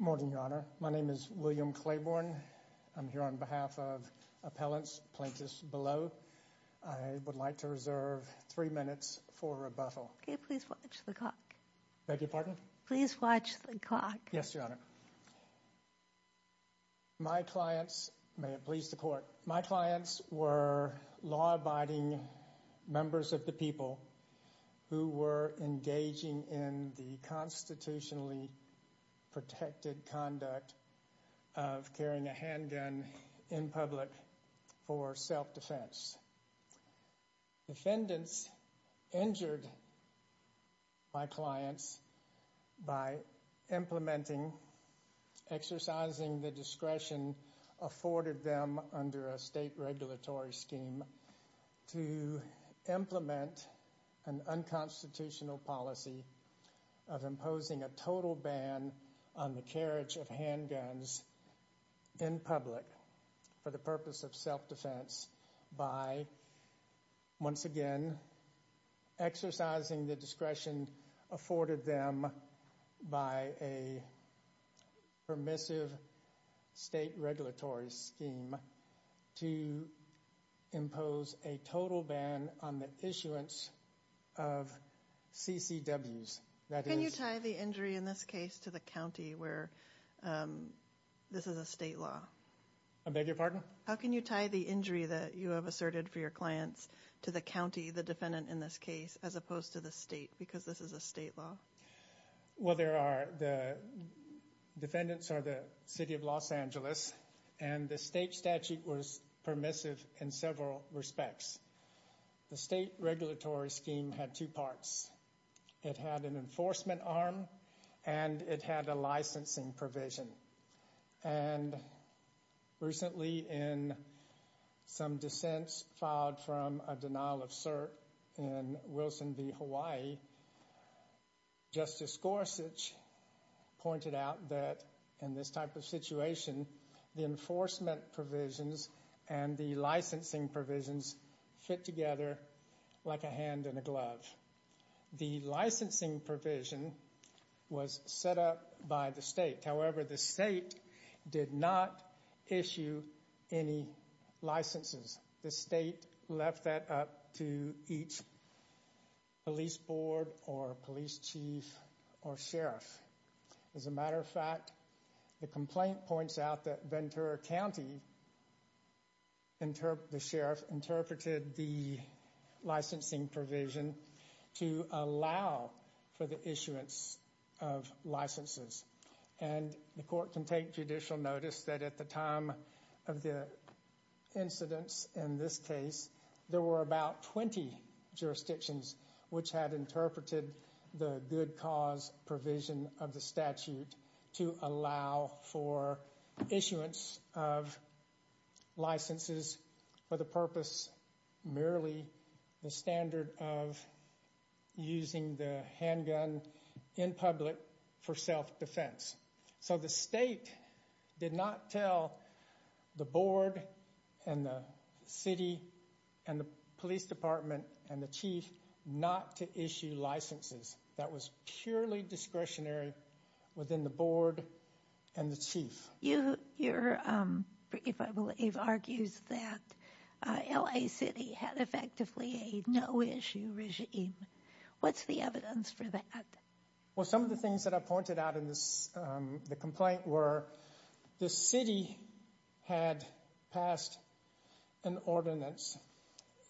Morning, Your Honor. My name is William Claiborne. I'm here on behalf of appellants plaintiffs below. I would like to reserve three minutes for rebuttal. Okay, please watch the clock. Beg your pardon? Please watch the clock. Yes, Your Honor. My clients were law-abiding members of the people who were engaging in the constitutionally exercising the discretion afforded them under a state regulatory scheme to implement an unconstitutional policy of imposing a total ban on the carriage of handguns in public for the purpose of self-defense by, once again, exercising the discretion afforded them by a permissive state regulatory scheme to impose a total ban on the issuance of CCWs. Can you tie the injury in this case to the county where this is a state law? I beg your pardon? How can you tie the injury that you have asserted for your clients to the county, the defendant in this case, as opposed to the state because this is a state law? Well, there are the defendants are the City of Los Angeles and the state statute was permissive in several respects. The state regulatory scheme had two parts. It had an enforcement arm and it had a licensing provision. And recently in some dissents filed from a denial of cert in Wilson v. Hawaii, Justice Gorsuch pointed out that in this type of situation, the enforcement provisions and the licensing provisions fit together like a hand in a glove. The licensing provision was set up by the state. However, the state did not issue any licenses. The state left that up to each police board or police chief or sheriff. As a matter of fact, the complaint points out that Ventura County, the sheriff, interpreted the licensing provision to allow for the issuance of licenses. And the court can take judicial notice that at the time of the incidents in this case, there were about 20 jurisdictions which had interpreted the good cause provision of the statute to allow for issuance of licenses for the purpose, merely the standard of using the handgun in public for self-defense. So the state did not tell the board and the city and the police department and the chief not to issue licenses. That was purely discretionary within the board and the chief. You here, if I believe, argues that L.A. City had effectively a no issue regime. What's the evidence for that? Well, some of the things that I pointed out in this complaint were the city had passed an ordinance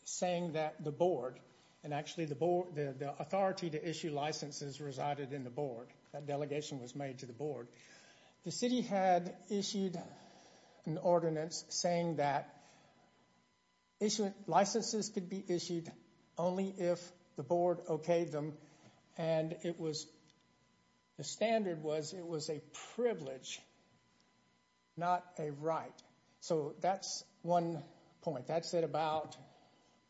saying that the board and actually the board, the authority to issue licenses resided in the board. That delegation was made to the board. The city had issued an ordinance saying that licenses could be issued only if the board okayed them. And the standard was it was a privilege, not a right. So that's one point. That's it about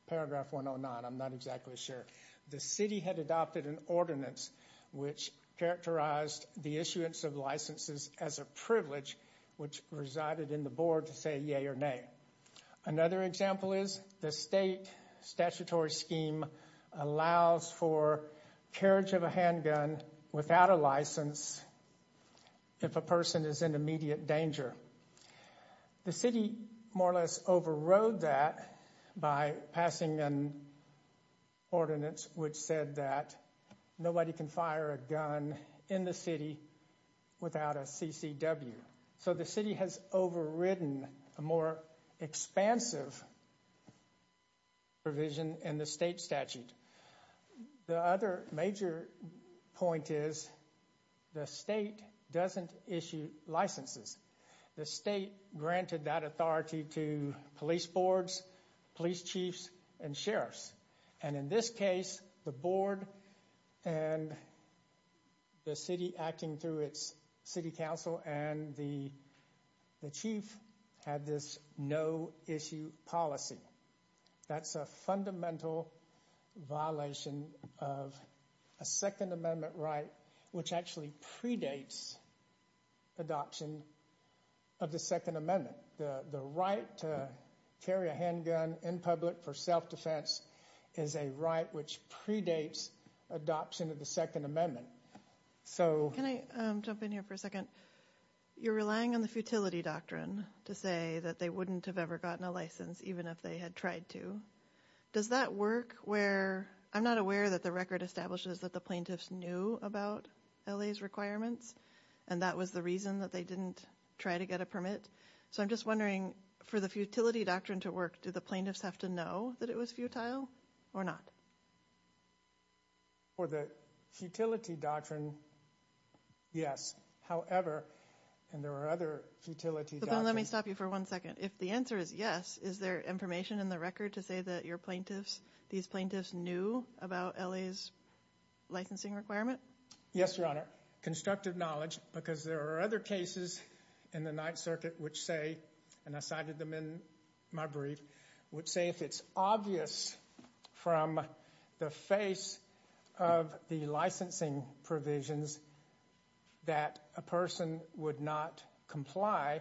paragraph 109. I'm not exactly sure. The city had adopted an ordinance which characterized the issuance of licenses as a privilege which resided in the board to say yea or nay. Another example is the state statutory scheme allows for carriage of a handgun without a license if a person is in immediate danger. The city more or less overrode that by passing an ordinance which said that nobody can fire a gun in the city without a CCW. So the city has overridden a more expansive provision in the state statute. The other major point is the state doesn't issue licenses. The state granted that authority to police boards, police chiefs, and sheriffs. And in this case, the board and the city acting through its city council and the chief had this no issue policy. That's a fundamental violation of a Second Amendment right which actually predates adoption of the Second Amendment. The right to carry a handgun in public for self-defense is a right which predates adoption of the Second Amendment. Can I jump in here for a second? You're relying on the futility doctrine to say that they wouldn't have ever gotten a license even if they had tried to. Does that work where I'm not aware that the record establishes that the plaintiffs knew about LA's requirements and that was the reason that they didn't try to get a permit. So I'm just wondering for the futility doctrine to work, do the plaintiffs have to know that it was futile or not? For the futility doctrine, yes. However, and there are other futility doctrines. Let me stop you for one second. If the answer is yes, is there information in the record to say that your plaintiffs, these plaintiffs knew about LA's licensing requirement? Yes, Your Honor. Because there are other cases in the Ninth Circuit which say, and I cited them in my brief, would say if it's obvious from the face of the licensing provisions that a person would not comply,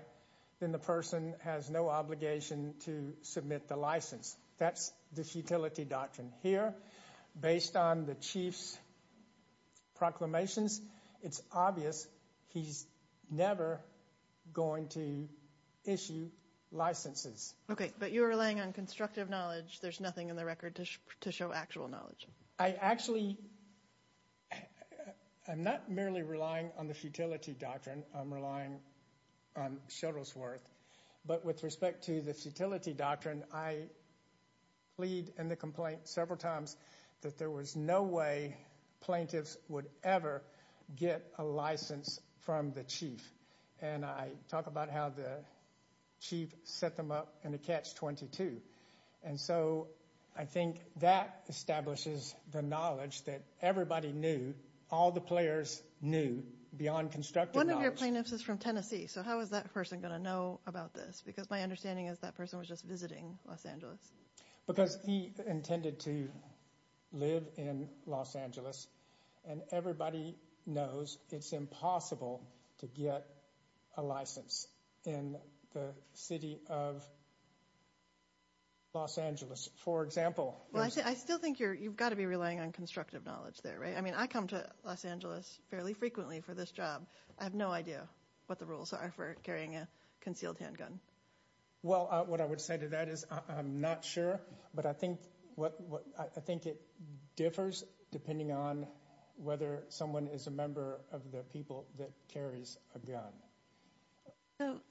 then the person has no obligation to submit the license. That's the futility doctrine. Here, based on the Chief's proclamations, it's obvious he's never going to issue licenses. Okay, but you're relying on constructive knowledge. There's nothing in the record to show actual knowledge. I actually am not merely relying on the futility doctrine. I'm relying on Sheldon's worth. But with respect to the futility doctrine, I plead in the complaint several times that there was no way plaintiffs would ever get a license from the Chief. And I talk about how the Chief set them up in a catch-22. And so I think that establishes the knowledge that everybody knew, all the players knew beyond constructive knowledge. One of your plaintiffs is from Tennessee. So how is that person going to know about this? Because my understanding is that person was just visiting Los Angeles. Because he intended to live in Los Angeles. And everybody knows it's impossible to get a license in the city of Los Angeles, for example. Well, I still think you've got to be relying on constructive knowledge there, right? I mean, I come to Los Angeles fairly frequently for this job. I have no idea what the rules are for carrying a concealed handgun. Well, what I would say to that is I'm not sure. But I think it differs depending on whether someone is a member of the people that carries a gun. We're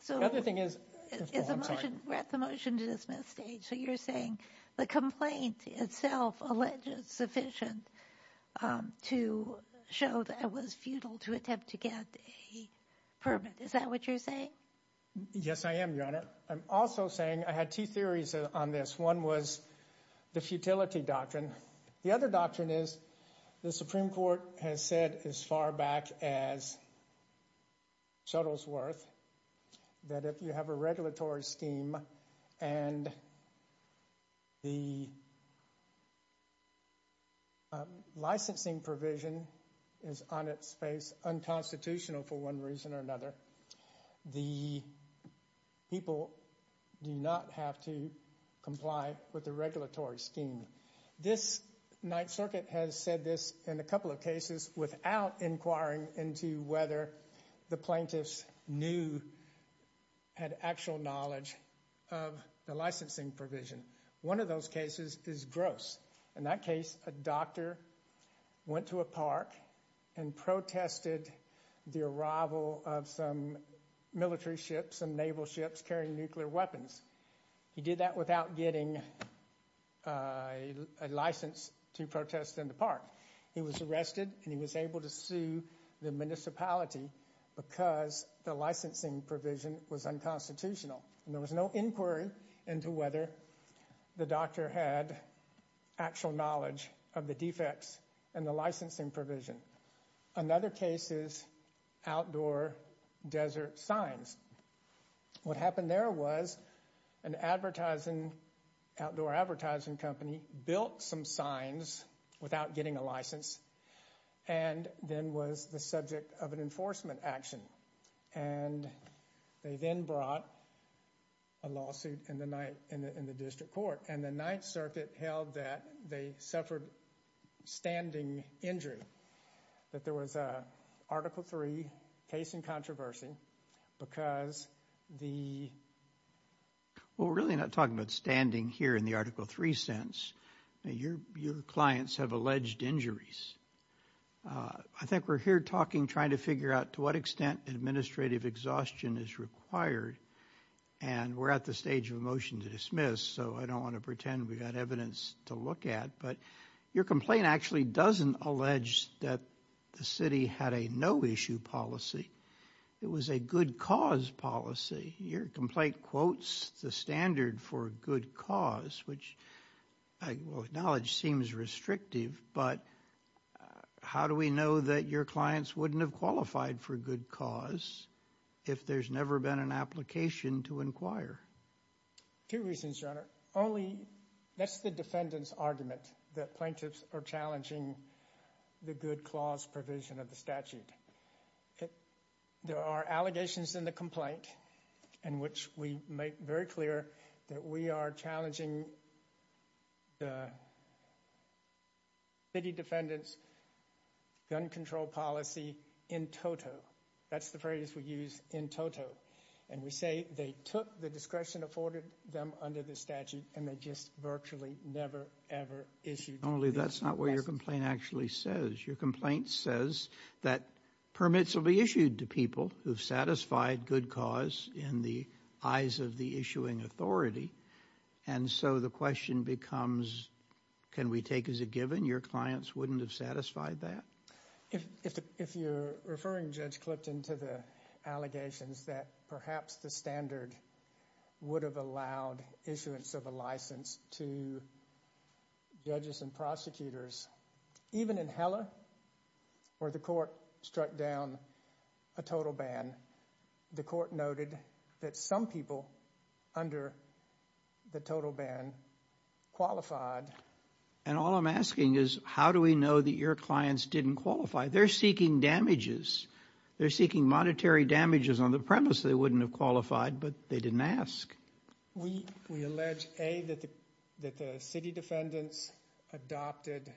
at the motion-to-dismiss stage. So you're saying the complaint itself alleges sufficient to show that it was futile to attempt to get a permit. Is that what you're saying? Yes, I am, Your Honor. I'm also saying I had two theories on this. One was the futility doctrine. The other doctrine is the Supreme Court has said as far back as Shuttlesworth that if you have a regulatory scheme and the licensing provision is on its face unconstitutional for one reason or another, the people do not have to comply with the regulatory scheme. This Ninth Circuit has said this in a couple of cases without inquiring into whether the plaintiffs knew, had actual knowledge of the licensing provision. One of those cases is gross. In that case, a doctor went to a park and protested the arrival of some military ships and naval ships carrying nuclear weapons. He did that without getting a license to protest in the park. He was arrested and he was able to sue the municipality because the licensing provision was unconstitutional. There was no inquiry into whether the doctor had actual knowledge of the defects and the licensing provision. Another case is outdoor desert signs. What happened there was an outdoor advertising company built some signs without getting a license and then was the subject of an enforcement action. They then brought a lawsuit in the district court and the Ninth Circuit held that they suffered standing injury, that there was an Article III case in controversy because the... We're really not talking about standing here in the Article III sense. Your clients have alleged injuries. I think we're here talking, trying to figure out to what extent administrative exhaustion is required, and we're at the stage of a motion to dismiss, so I don't want to pretend we've got evidence to look at, but your complaint actually doesn't allege that the city had a no-issue policy. It was a good-cause policy. Your complaint quotes the standard for good cause, which I acknowledge seems restrictive, but how do we know that your clients wouldn't have qualified for good cause if there's never been an application to inquire? Two reasons, Your Honor. Only that's the defendant's argument, that plaintiffs are challenging the good-clause provision of the statute. There are allegations in the complaint in which we make very clear that we are challenging the city defendant's gun control policy in toto. That's the phrase we use, in toto, and we say they took the discretion afforded them under the statute and they just virtually never, ever issued. Only that's not what your complaint actually says. Your complaint says that permits will be issued to people who've satisfied good cause in the eyes of the issuing authority, and so the question becomes, can we take as a given your clients wouldn't have satisfied that? If you're referring, Judge Clipton, to the allegations that perhaps the standard would have allowed issuance of a license to judges and prosecutors, even in Heller, where the court struck down a total ban, the court noted that some people under the total ban qualified. And all I'm asking is, how do we know that your clients didn't qualify? They're seeking damages. They're seeking monetary damages on the premise they wouldn't have qualified, but they didn't ask. We allege, A, that the city defendants adopted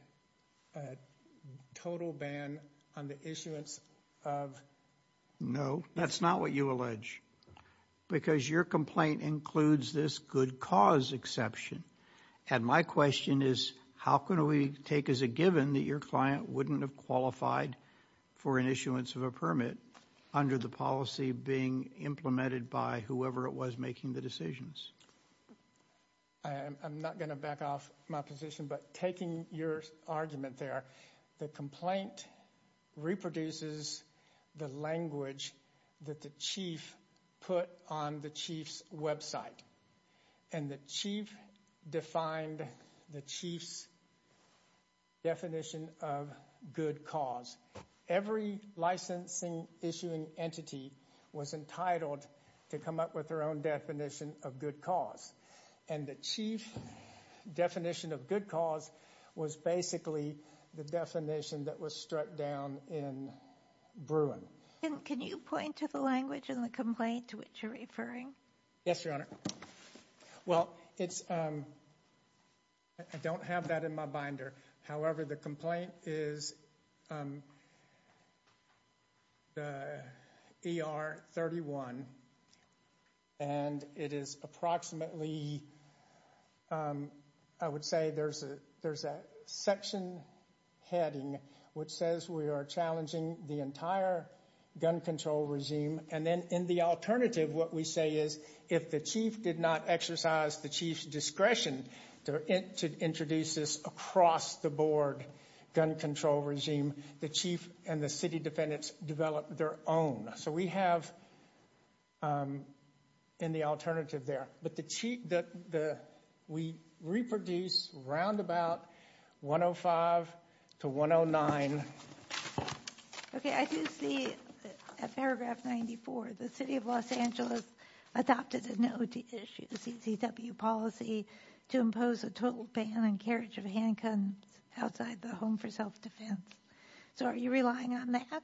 a total ban on the issuance of... No, that's not what you allege, because your complaint includes this good cause exception. And my question is, how can we take as a given that your client wouldn't have qualified for an issuance of a permit under the policy being implemented by whoever it was making the decisions? I'm not going to back off my position, but taking your argument there, the complaint reproduces the language that the chief put on the chief's website, and the chief defined the chief's definition of good cause. Every licensing-issuing entity was entitled to come up with their own definition of good cause, and the chief's definition of good cause was basically the definition that was struck down in Bruin. And can you point to the language in the complaint to which you're referring? Yes, Your Honor. Well, I don't have that in my binder. However, the complaint is ER 31, and it is approximately, I would say there's a section heading which says we are challenging the entire gun control regime, and then in the alternative what we say is if the chief did not exercise the chief's discretion to introduce this across-the-board gun control regime, the chief and the city defendants develop their own. So we have in the alternative there, but we reproduce roundabout 105 to 109. Okay, I do see at paragraph 94, the city of Los Angeles adopted an OTCW policy to impose a total ban on carriage of handguns outside the home for self-defense. So are you relying on that?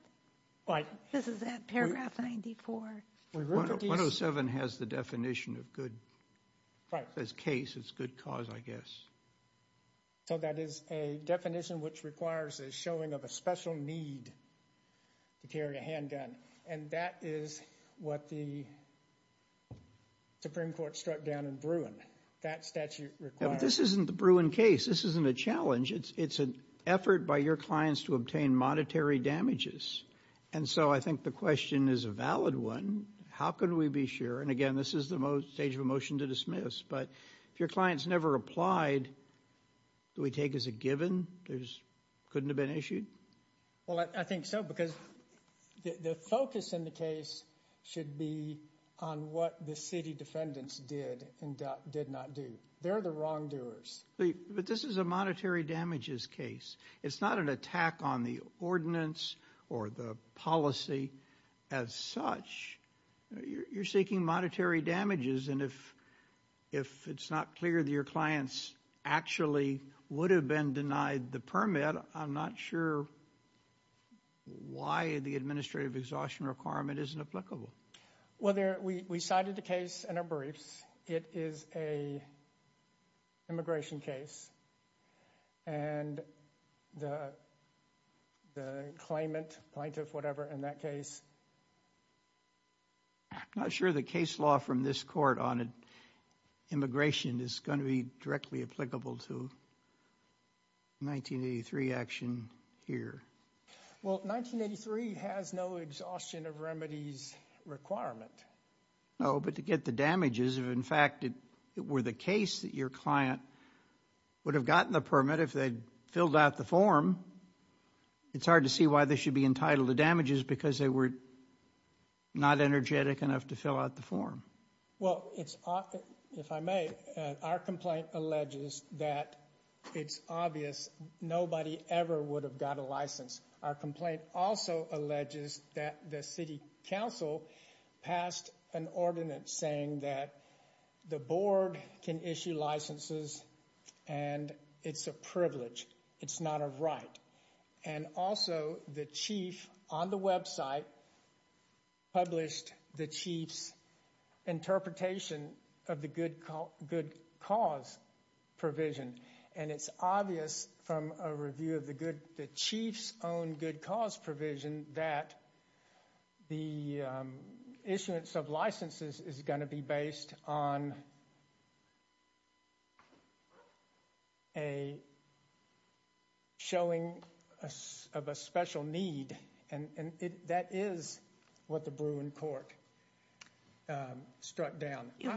Right. This is at paragraph 94. 107 has the definition of good. Right. As case, it's good cause, I guess. So that is a definition which requires a showing of a special need to carry a handgun, and that is what the Supreme Court struck down in Bruin. That statute requires. Yeah, but this isn't the Bruin case. This isn't a challenge. It's an effort by your clients to obtain monetary damages. And so I think the question is a valid one. How can we be sure? And again, this is the stage of a motion to dismiss. But if your client's never applied, do we take as a given? Couldn't have been issued? Well, I think so because the focus in the case should be on what the city defendants did and did not do. They're the wrongdoers. But this is a monetary damages case. It's not an attack on the ordinance or the policy as such. You're seeking monetary damages. And if it's not clear that your clients actually would have been denied the permit, I'm not sure why the administrative exhaustion requirement isn't applicable. Well, we cited a case in our briefs. It is an immigration case. And the claimant, plaintiff, whatever, in that case. I'm not sure the case law from this court on immigration is going to be directly applicable to 1983 action here. Well, 1983 has no exhaustion of remedies requirement. No, but to get the damages, if in fact it were the case that your client would have gotten the permit, if they'd filled out the form, it's hard to see why they should be entitled to damages because they were not energetic enough to fill out the form. Well, if I may, our complaint alleges that it's obvious nobody ever would have got a license. Our complaint also alleges that the city council passed an ordinance saying that the board can issue licenses and it's a privilege. It's not a right. And also the chief on the website published the chief's interpretation of the good cause provision. And it's obvious from a review of the chief's own good cause provision that the issuance of licenses is going to be based on a showing of a special need. And that is what the Bruin court struck down. Do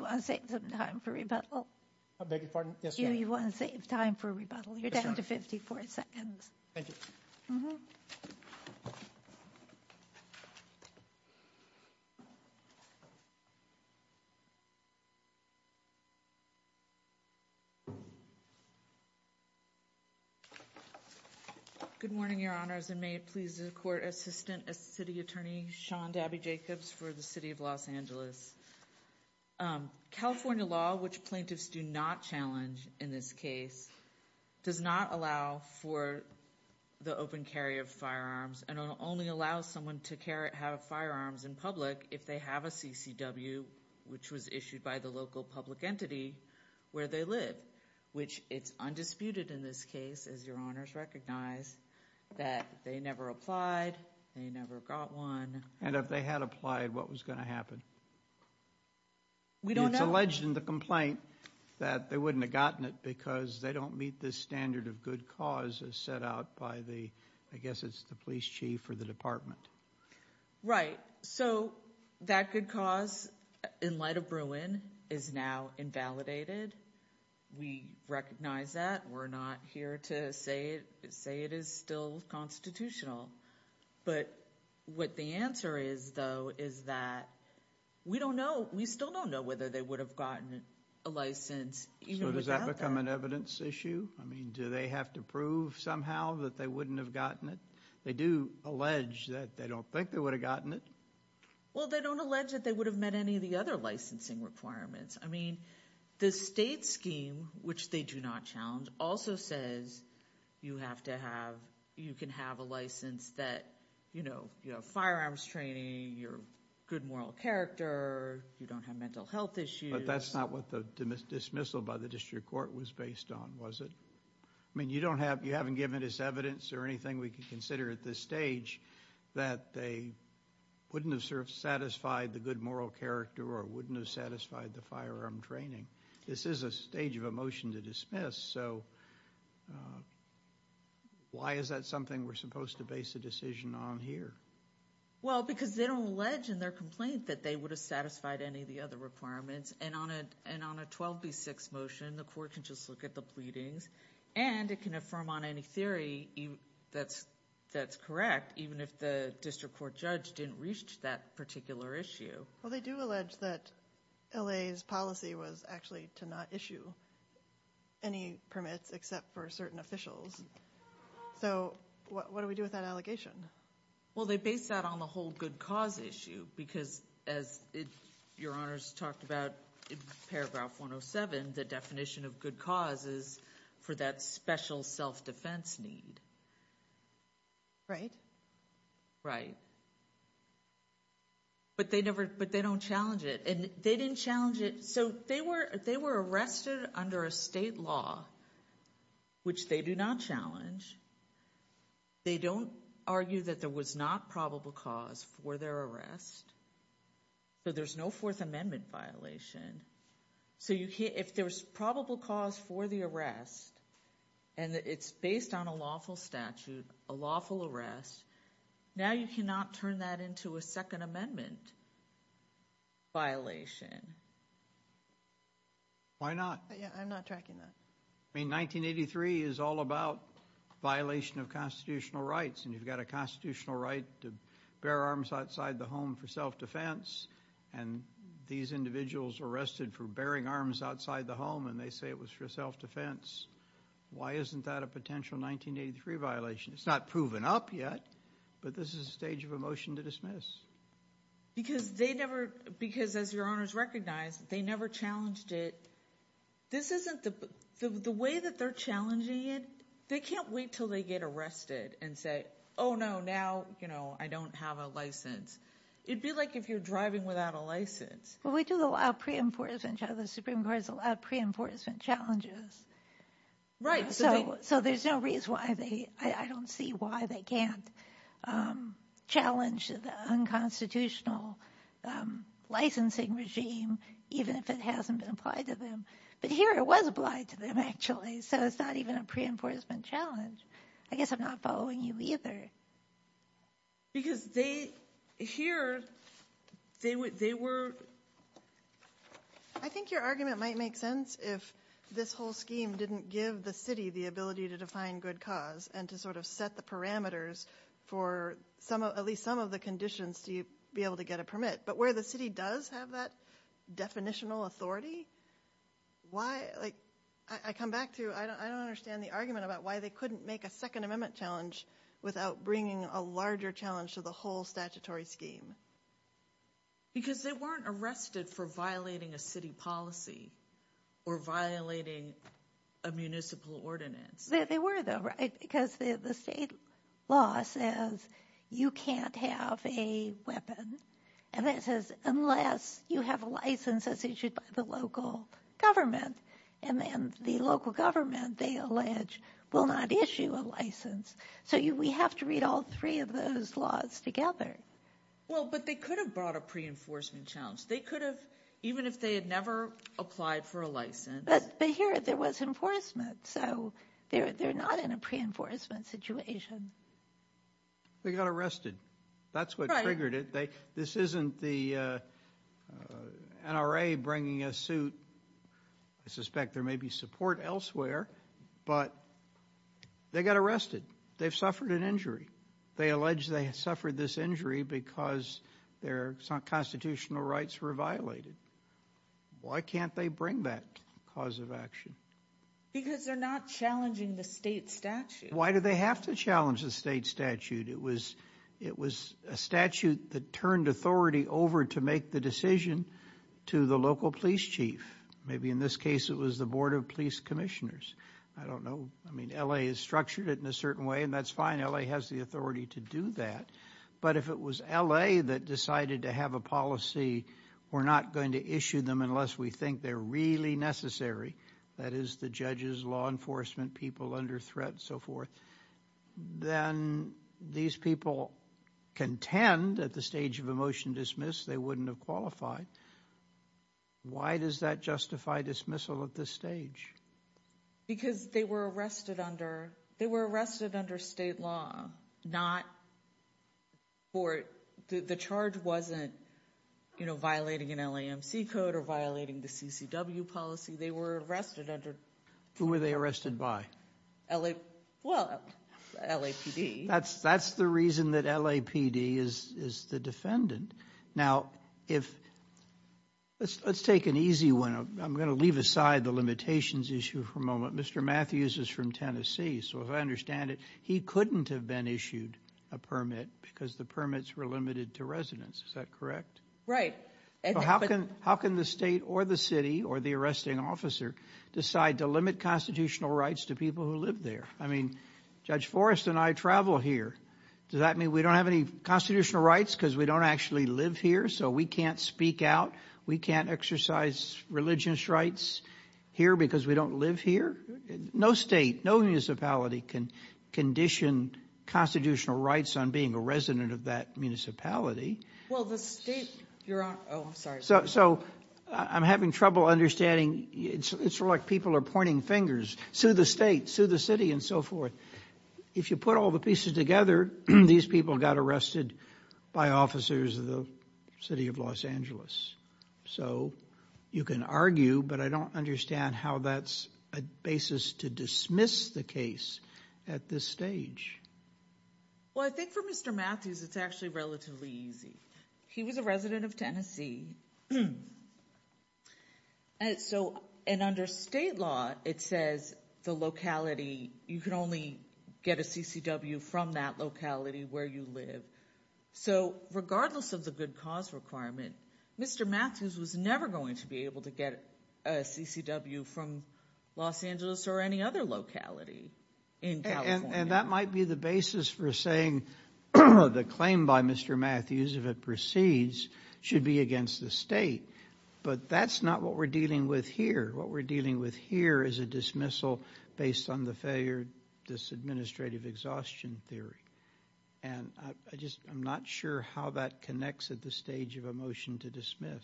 you want to take some time for rebuttal? I beg your pardon. Yes, you want to save time for rebuttal. You're down to 54 seconds. Thank you. Good morning, Your Honors. And may it please the court, Assistant City Attorney Sean Dabby Jacobs for the city of Los Angeles. California law, which plaintiffs do not challenge in this case, does not allow for the open carry of firearms. And it only allows someone to have firearms in public if they have a CCW, which was issued by the local public entity where they live. Which it's undisputed in this case, as Your Honors recognize, that they never applied. They never got one. And if they had applied, what was going to happen? We don't know. It's alleged in the complaint that they wouldn't have gotten it because they don't meet the standard of good cause as set out by the, I guess it's the police chief or the department. Right. So that good cause, in light of Bruin, is now invalidated. We recognize that. We're not here to say it is still constitutional. But what the answer is, though, is that we don't know. We still don't know whether they would have gotten a license even without that. So does that become an evidence issue? I mean, do they have to prove somehow that they wouldn't have gotten it? They do allege that they don't think they would have gotten it. Well, they don't allege that they would have met any of the other licensing requirements. I mean, the state scheme, which they do not challenge, also says you can have a license that you have firearms training, you're a good moral character, you don't have mental health issues. But that's not what the dismissal by the district court was based on, was it? I mean, you haven't given us evidence or anything we can consider at this stage that they wouldn't have satisfied the good moral character or wouldn't have satisfied the firearm training. This is a stage of a motion to dismiss. So why is that something we're supposed to base a decision on here? Well, because they don't allege in their complaint that they would have satisfied any of the other requirements. And on a 12B6 motion, the court can just look at the pleadings, and it can affirm on any theory that's correct, even if the district court judge didn't reach that particular issue. Well, they do allege that LA's policy was actually to not issue any permits except for certain officials. So what do we do with that allegation? Well, they base that on the whole good cause issue, because as your honors talked about in paragraph 107, the definition of good cause is for that special self-defense need. Right. Right. But they don't challenge it. And they didn't challenge it. So they were arrested under a state law, which they do not challenge. They don't argue that there was not probable cause for their arrest. So there's no Fourth Amendment violation. So if there's probable cause for the arrest, and it's based on a lawful statute, a lawful arrest, now you cannot turn that into a Second Amendment violation. Why not? Yeah, I'm not tracking that. I mean, 1983 is all about violation of constitutional rights, and you've got a constitutional right to bear arms outside the home for self-defense. And these individuals were arrested for bearing arms outside the home, and they say it was for self-defense. Why isn't that a potential 1983 violation? It's not proven up yet, but this is a stage of a motion to dismiss. Because as your honors recognize, they never challenged it. The way that they're challenging it, they can't wait until they get arrested and say, oh, no, now I don't have a license. It would be like if you're driving without a license. Well, we do allow pre-enforcement challenges. The Supreme Court has allowed pre-enforcement challenges. Right. So there's no reason why they – I don't see why they can't challenge the unconstitutional licensing regime, even if it hasn't been applied to them. But here it was applied to them, actually, so it's not even a pre-enforcement challenge. I guess I'm not following you either. Because they – here, they were – I think your argument might make sense if this whole scheme didn't give the city the ability to define good cause and to sort of set the parameters for at least some of the conditions to be able to get a permit. But where the city does have that definitional authority, why – like, I come back to – I don't understand the argument about why they couldn't make a Second Amendment challenge without bringing a larger challenge to the whole statutory scheme. Because they weren't arrested for violating a city policy or violating a municipal ordinance. They were, though, right? Because the state law says you can't have a weapon unless you have a license that's issued by the local government. And then the local government, they allege, will not issue a license. So we have to read all three of those laws together. Well, but they could have brought a pre-enforcement challenge. They could have, even if they had never applied for a license. But here, there was enforcement, so they're not in a pre-enforcement situation. They got arrested. That's what triggered it. This isn't the NRA bringing a suit. I suspect there may be support elsewhere, but they got arrested. They've suffered an injury. They allege they suffered this injury because their constitutional rights were violated. Why can't they bring that cause of action? Because they're not challenging the state statute. Why do they have to challenge the state statute? It was a statute that turned authority over to make the decision to the local police chief. Maybe in this case, it was the Board of Police Commissioners. I don't know. I mean, LA has structured it in a certain way, and that's fine. LA has the authority to do that. But if it was LA that decided to have a policy, we're not going to issue them unless we think they're really necessary. That is, the judges, law enforcement people under threat, and so forth. Then these people contend at the stage of a motion dismiss, they wouldn't have qualified. Why does that justify dismissal at this stage? Because they were arrested under state law, not court. The charge wasn't violating an LAMC code or violating the CCW policy. They were arrested under— Who were they arrested by? Well, LAPD. That's the reason that LAPD is the defendant. Now, let's take an easy one. I'm going to leave aside the limitations issue for a moment. Mr. Matthews is from Tennessee, so if I understand it, he couldn't have been issued a permit because the permits were limited to residents. Is that correct? Right. How can the state or the city or the arresting officer decide to limit constitutional rights to people who live there? I mean, Judge Forrest and I travel here. Does that mean we don't have any constitutional rights because we don't actually live here, so we can't speak out? We can't exercise religious rights here because we don't live here? No state, no municipality can condition constitutional rights on being a resident of that municipality. Well, the state— Oh, I'm sorry. So I'm having trouble understanding. It's like people are pointing fingers. Sue the state, sue the city, and so forth. If you put all the pieces together, these people got arrested by officers of the city of Los Angeles. So you can argue, but I don't understand how that's a basis to dismiss the case at this stage. Well, I think for Mr. Matthews, it's actually relatively easy. He was a resident of Tennessee. So under state law, it says the locality, you can only get a CCW from that locality where you live. So regardless of the good cause requirement, Mr. Matthews was never going to be able to get a CCW from Los Angeles or any other locality in California. And that might be the basis for saying the claim by Mr. Matthews, if it proceeds, should be against the state. But that's not what we're dealing with here. What we're dealing with here is a dismissal based on the failure disadministrative exhaustion theory. And I'm not sure how that connects at the stage of a motion to dismiss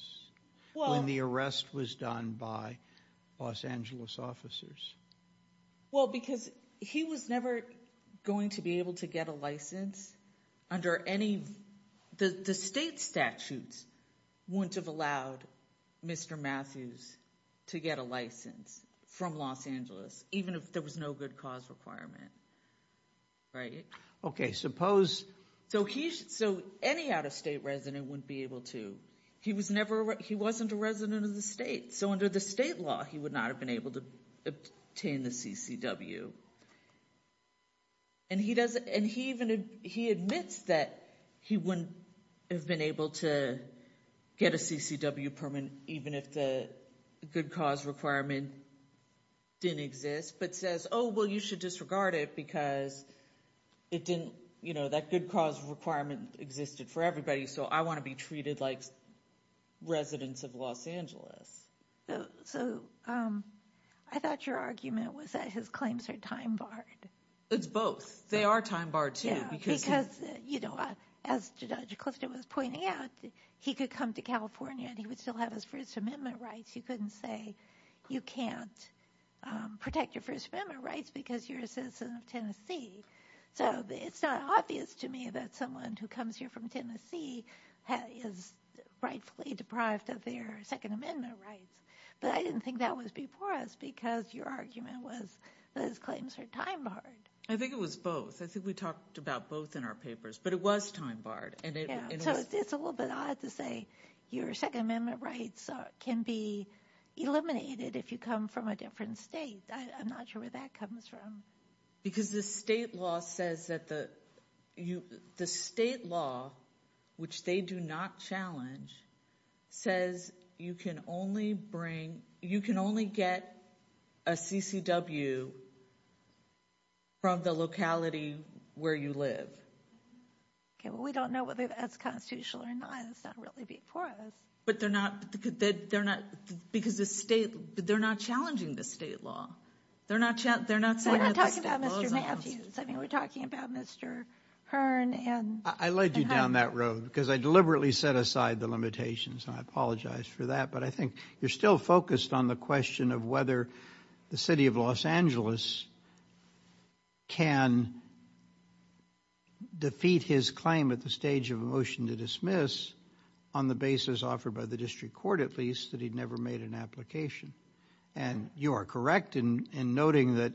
when the arrest was done by Los Angeles officers. Well, because he was never going to be able to get a license under any – the state statutes wouldn't have allowed Mr. Matthews to get a license from Los Angeles, even if there was no good cause requirement, right? Okay, suppose – So any out-of-state resident wouldn't be able to. He wasn't a resident of the state. So under the state law, he would not have been able to obtain the CCW. And he admits that he wouldn't have been able to get a CCW permit even if the good cause requirement didn't exist, but says, oh, well, you should disregard it because it didn't – that good cause requirement existed for everybody, so I want to be treated like residents of Los Angeles. So I thought your argument was that his claims are time-barred. It's both. They are time-barred, too. Because, you know, as Judge Clifton was pointing out, he could come to California and he would still have his First Amendment rights. He couldn't say you can't protect your First Amendment rights because you're a citizen of Tennessee. So it's not obvious to me that someone who comes here from Tennessee is rightfully deprived of their Second Amendment rights. But I didn't think that was before us because your argument was that his claims are time-barred. I think it was both. I think we talked about both in our papers. But it was time-barred. So it's a little bit odd to say your Second Amendment rights can be eliminated if you come from a different state. I'm not sure where that comes from. Because the state law says that the state law, which they do not challenge, says you can only bring, you can only get a CCW from the locality where you live. Okay, well, we don't know whether that's constitutional or not. It's not really before us. But they're not, because the state, they're not challenging the state law. We're not talking about Mr. Matthews. I mean, we're talking about Mr. Hearn. I led you down that road because I deliberately set aside the limitations. I apologize for that. But I think you're still focused on the question of whether the city of Los Angeles can defeat his claim at the stage of a motion to dismiss on the basis offered by the district court, at least, that he'd never made an application. And you are correct in noting that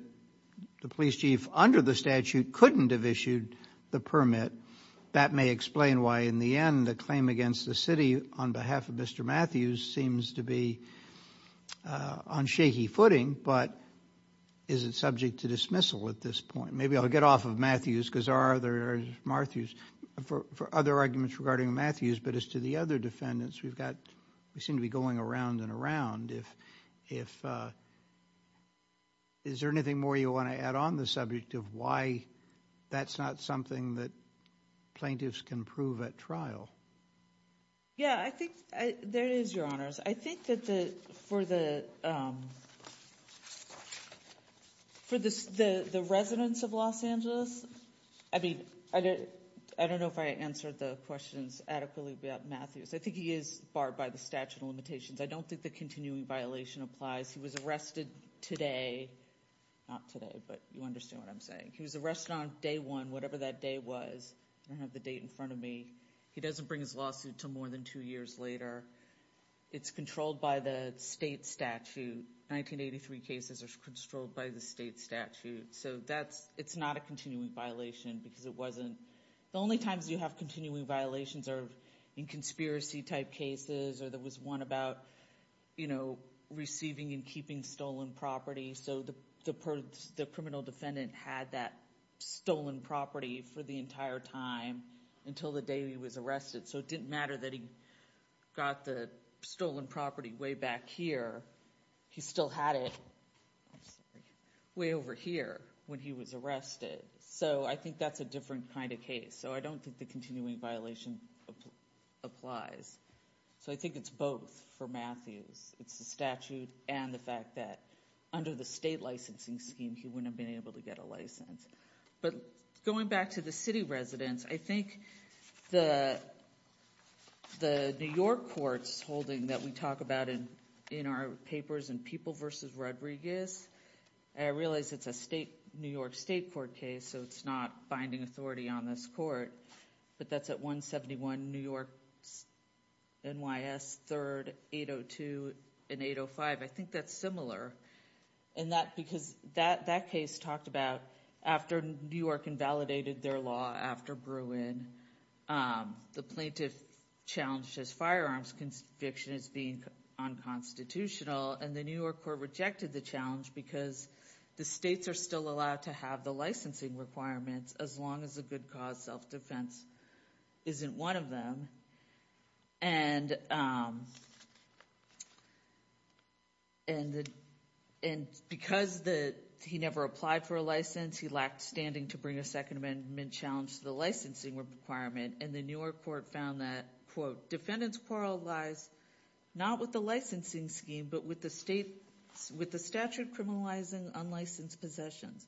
the police chief under the statute couldn't have issued the permit. That may explain why, in the end, the claim against the city on behalf of Mr. Matthews seems to be on shaky footing. But is it subject to dismissal at this point? Maybe I'll get off of Matthews because there are other arguments regarding Matthews. But as to the other defendants, we seem to be going around and around. Is there anything more you want to add on the subject of why that's not something that plaintiffs can prove at trial? Yeah, I think there is, Your Honors. I think that for the residents of Los Angeles, I mean, I don't know if I answered the questions adequately about Matthews. I think he is barred by the statute of limitations. I don't think the continuing violation applies. He was arrested today. Not today, but you understand what I'm saying. He was arrested on day one, whatever that day was. I don't have the date in front of me. He doesn't bring his lawsuit until more than two years later. It's controlled by the state statute. 1983 cases are controlled by the state statute. So it's not a continuing violation because it wasn't. The only times you have continuing violations are in conspiracy-type cases or there was one about receiving and keeping stolen property. So the criminal defendant had that stolen property for the entire time until the day he was arrested. So it didn't matter that he got the stolen property way back here. He still had it way over here when he was arrested. So I think that's a different kind of case. So I don't think the continuing violation applies. So I think it's both for Matthews. It's the statute and the fact that under the state licensing scheme, he wouldn't have been able to get a license. But going back to the city residents, I think the New York courts holding that we talk about in our papers in People v. Rodriguez, I realize it's a New York state court case, so it's not binding authority on this court, but that's at 171 New York, NYS, 3rd, 802, and 805. I think that's similar because that case talked about after New York invalidated their law after Bruin, the plaintiff challenged his firearms conviction as being unconstitutional, and the New York court rejected the challenge because the states are still allowed to have the licensing requirements as long as a good cause self-defense isn't one of them. And because he never applied for a license, he lacked standing to bring a Second Amendment challenge to the licensing requirement, and the New York court found that, quote, but with the statute criminalizing unlicensed possessions.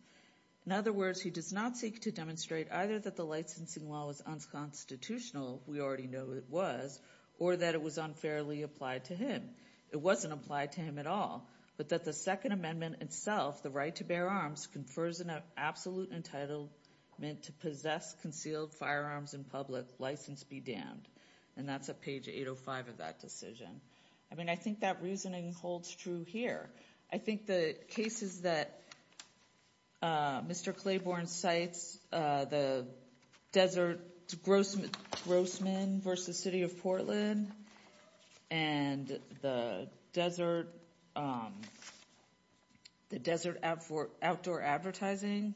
In other words, he does not seek to demonstrate either that the licensing law was unconstitutional, we already know it was, or that it was unfairly applied to him. It wasn't applied to him at all, but that the Second Amendment itself, the right to bear arms, confers an absolute entitlement to possess concealed firearms in public, license be damned. And that's at page 805 of that decision. I mean, I think that reasoning holds true here. I think the cases that Mr. Claiborne cites, the Desert Grossman v. City of Portland and the Desert Outdoor Advertising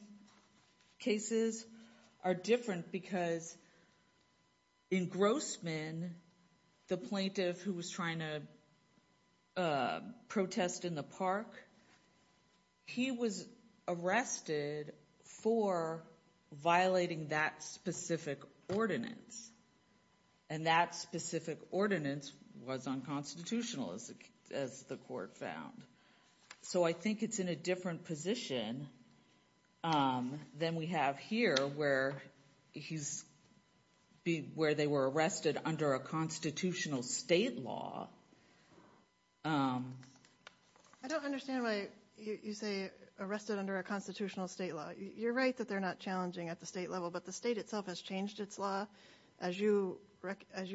cases are different because in Grossman, the plaintiff who was trying to protest in the park, he was arrested for violating that specific ordinance. And that specific ordinance was unconstitutional, as the court found. So I think it's in a different position than we have here, where they were arrested under a constitutional state law. I don't understand why you say arrested under a constitutional state law. You're right that they're not challenging at the state level, but the state itself has changed its law, as you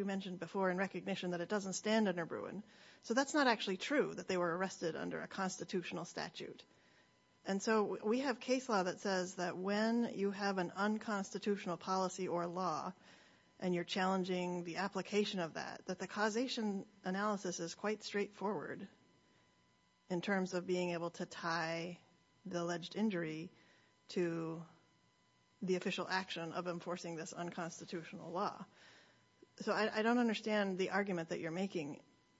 mentioned before, in recognition that it doesn't stand under Bruin. So that's not actually true, that they were arrested under a constitutional statute. And so we have case law that says that when you have an unconstitutional policy or law and you're challenging the application of that, that the causation analysis is quite straightforward in terms of being able to tie the alleged injury to the official action of enforcing this unconstitutional law. So I don't understand the argument that you're making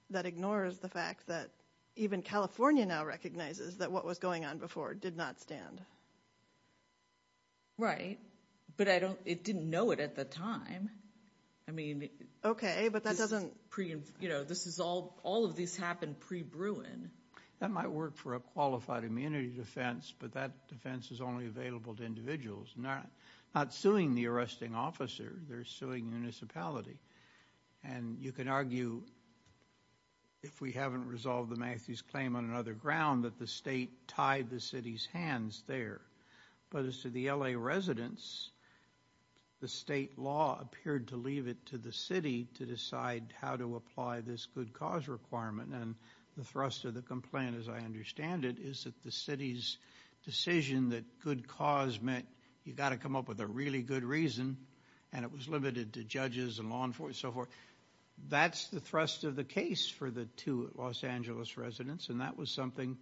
that ignores the fact that even California now recognizes that what was going on before did not stand. Right, but it didn't know it at the time. I mean, all of this happened pre-Bruin. That might work for a qualified immunity defense, but that defense is only available to individuals. Not suing the arresting officer, they're suing municipality. And you can argue, if we haven't resolved the Matthews claim on another ground, that the state tied the city's hands there. But as to the L.A. residents, the state law appeared to leave it to the city to decide how to apply this good cause requirement. And the thrust of the complaint, as I understand it, is that the city's decision that good cause meant you've got to come up with a really good reason, and it was limited to judges and law enforcement and so forth, that's the thrust of the case for the two Los Angeles residents. And that was something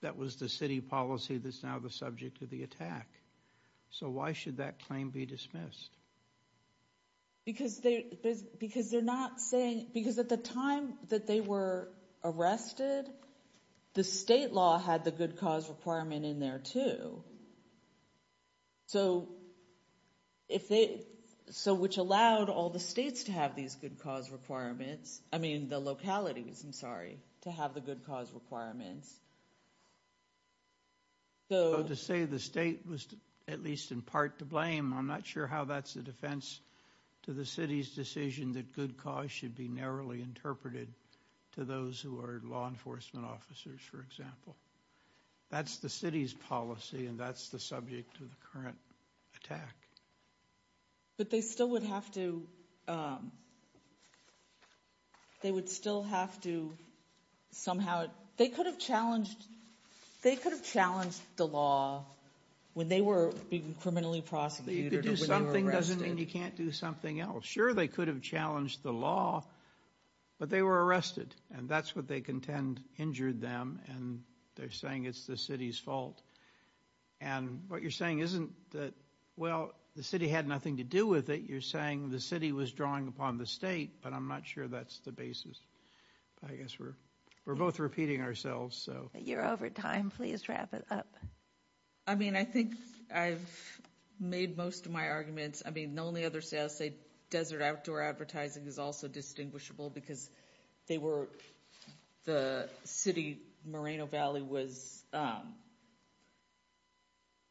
that was the city policy that's now the subject of the attack. So why should that claim be dismissed? Because at the time that they were arrested, the state law had the good cause requirement in there, too. So which allowed all the states to have these good cause requirements, I mean the localities, I'm sorry, to have the good cause requirements. To say the state was at least in part to blame, I'm not sure how that's a defense to the city's decision that good cause should be narrowly interpreted to those who are law enforcement officers, for example. That's the city's policy, and that's the subject of the current attack. But they still would have to, they would still have to somehow, they could have challenged the law when they were being criminally prosecuted or when they were arrested. To do something doesn't mean you can't do something else. Sure, they could have challenged the law, but they were arrested, and that's what they contend injured them, and they're saying it's the city's fault. And what you're saying isn't that, well, the city had nothing to do with it. You're saying the city was drawing upon the state, but I'm not sure that's the basis. I guess we're both repeating ourselves, so. You're over time. Please wrap it up. I mean, I think I've made most of my arguments. I mean, the only other thing I'll say, desert outdoor advertising is also distinguishable because they were, the city, Moreno Valley was,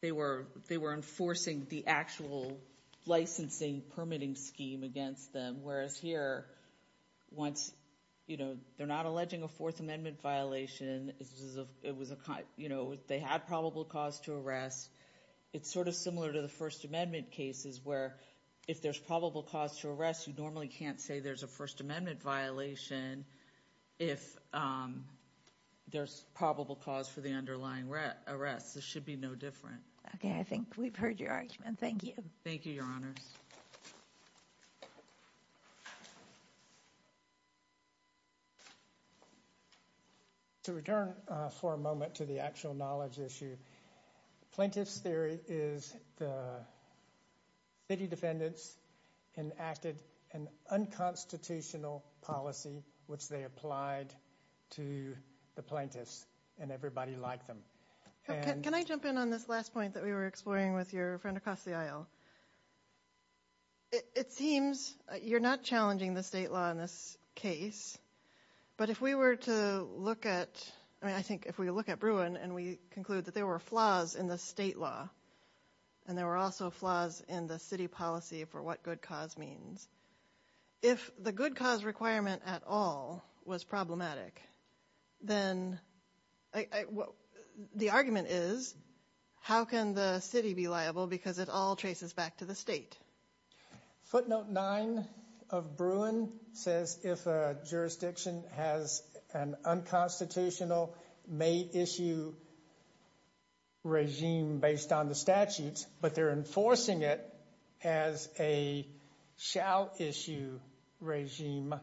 they were enforcing the actual licensing permitting scheme against them, whereas here, once, you know, they're not alleging a Fourth Amendment violation. It was a, you know, they had probable cause to arrest. It's sort of similar to the First Amendment cases where if there's probable cause to arrest, you normally can't say there's a First Amendment violation if there's probable cause for the underlying arrest. This should be no different. Okay, I think we've heard your argument. Thank you. Thank you, Your Honors. To return for a moment to the actual knowledge issue, plaintiff's theory is the city defendants enacted an unconstitutional policy which they applied to the plaintiffs, and everybody liked them. Can I jump in on this last point that we were exploring with your friend across the aisle? It seems you're not challenging the state law in this case, but if we were to look at, I mean, I think if we look at Bruin and we conclude that there were flaws in the state law, and there were also flaws in the city policy for what good cause means, if the good cause requirement at all was problematic, then the argument is, how can the city be liable because it all traces back to the state? Footnote 9 of Bruin says if a jurisdiction has an unconstitutional, may-issue regime based on the statutes, but they're enforcing it as a shall-issue regime,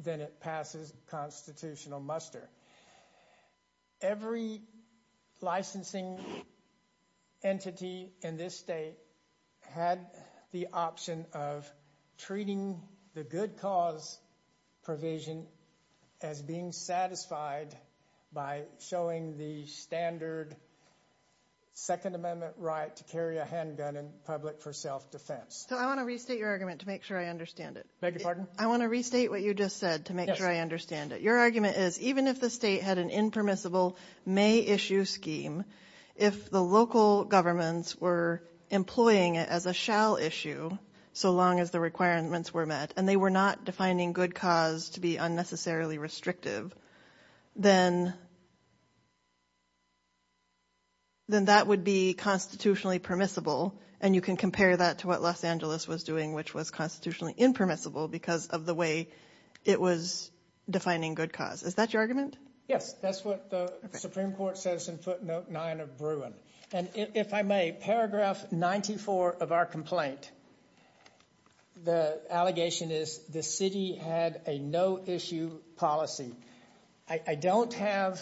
then it passes constitutional muster. Every licensing entity in this state had the option of treating the good cause provision as being satisfied by showing the standard Second Amendment right to carry a handgun in public for self-defense. So I want to restate your argument to make sure I understand it. I want to restate what you just said to make sure I understand it. Your argument is even if the state had an impermissible may-issue scheme, if the local governments were employing it as a shall-issue, so long as the requirements were met, and they were not defining good cause to be unnecessarily restrictive, then that would be constitutionally permissible, and you can compare that to what Los Angeles was doing, which was constitutionally impermissible because of the way it was defining good cause. Is that your argument? Yes, that's what the Supreme Court says in footnote 9 of Bruin. And if I may, paragraph 94 of our complaint, the allegation is the city had a no-issue policy. I don't have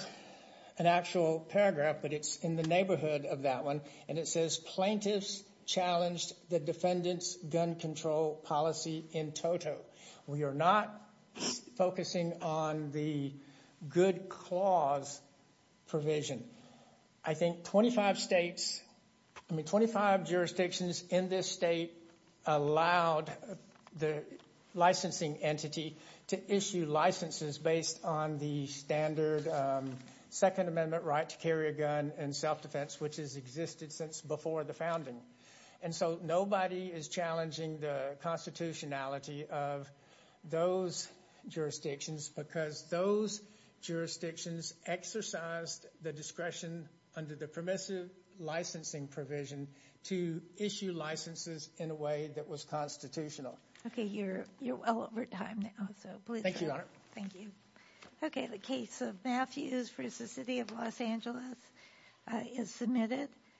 an actual paragraph, but it's in the neighborhood of that one, and it says plaintiffs challenged the defendant's gun control policy in toto. We are not focusing on the good cause provision. I think 25 jurisdictions in this state allowed the licensing entity to issue licenses based on the standard Second Amendment right to carry a gun and self-defense, which has existed since before the founding. And so nobody is challenging the constitutionality of those jurisdictions because those jurisdictions exercised the discretion under the permissive licensing provision to issue licenses in a way that was constitutional. Okay, you're well over time now, so please go on. Thank you. Okay, the case of Matthews v. City of Los Angeles is submitted.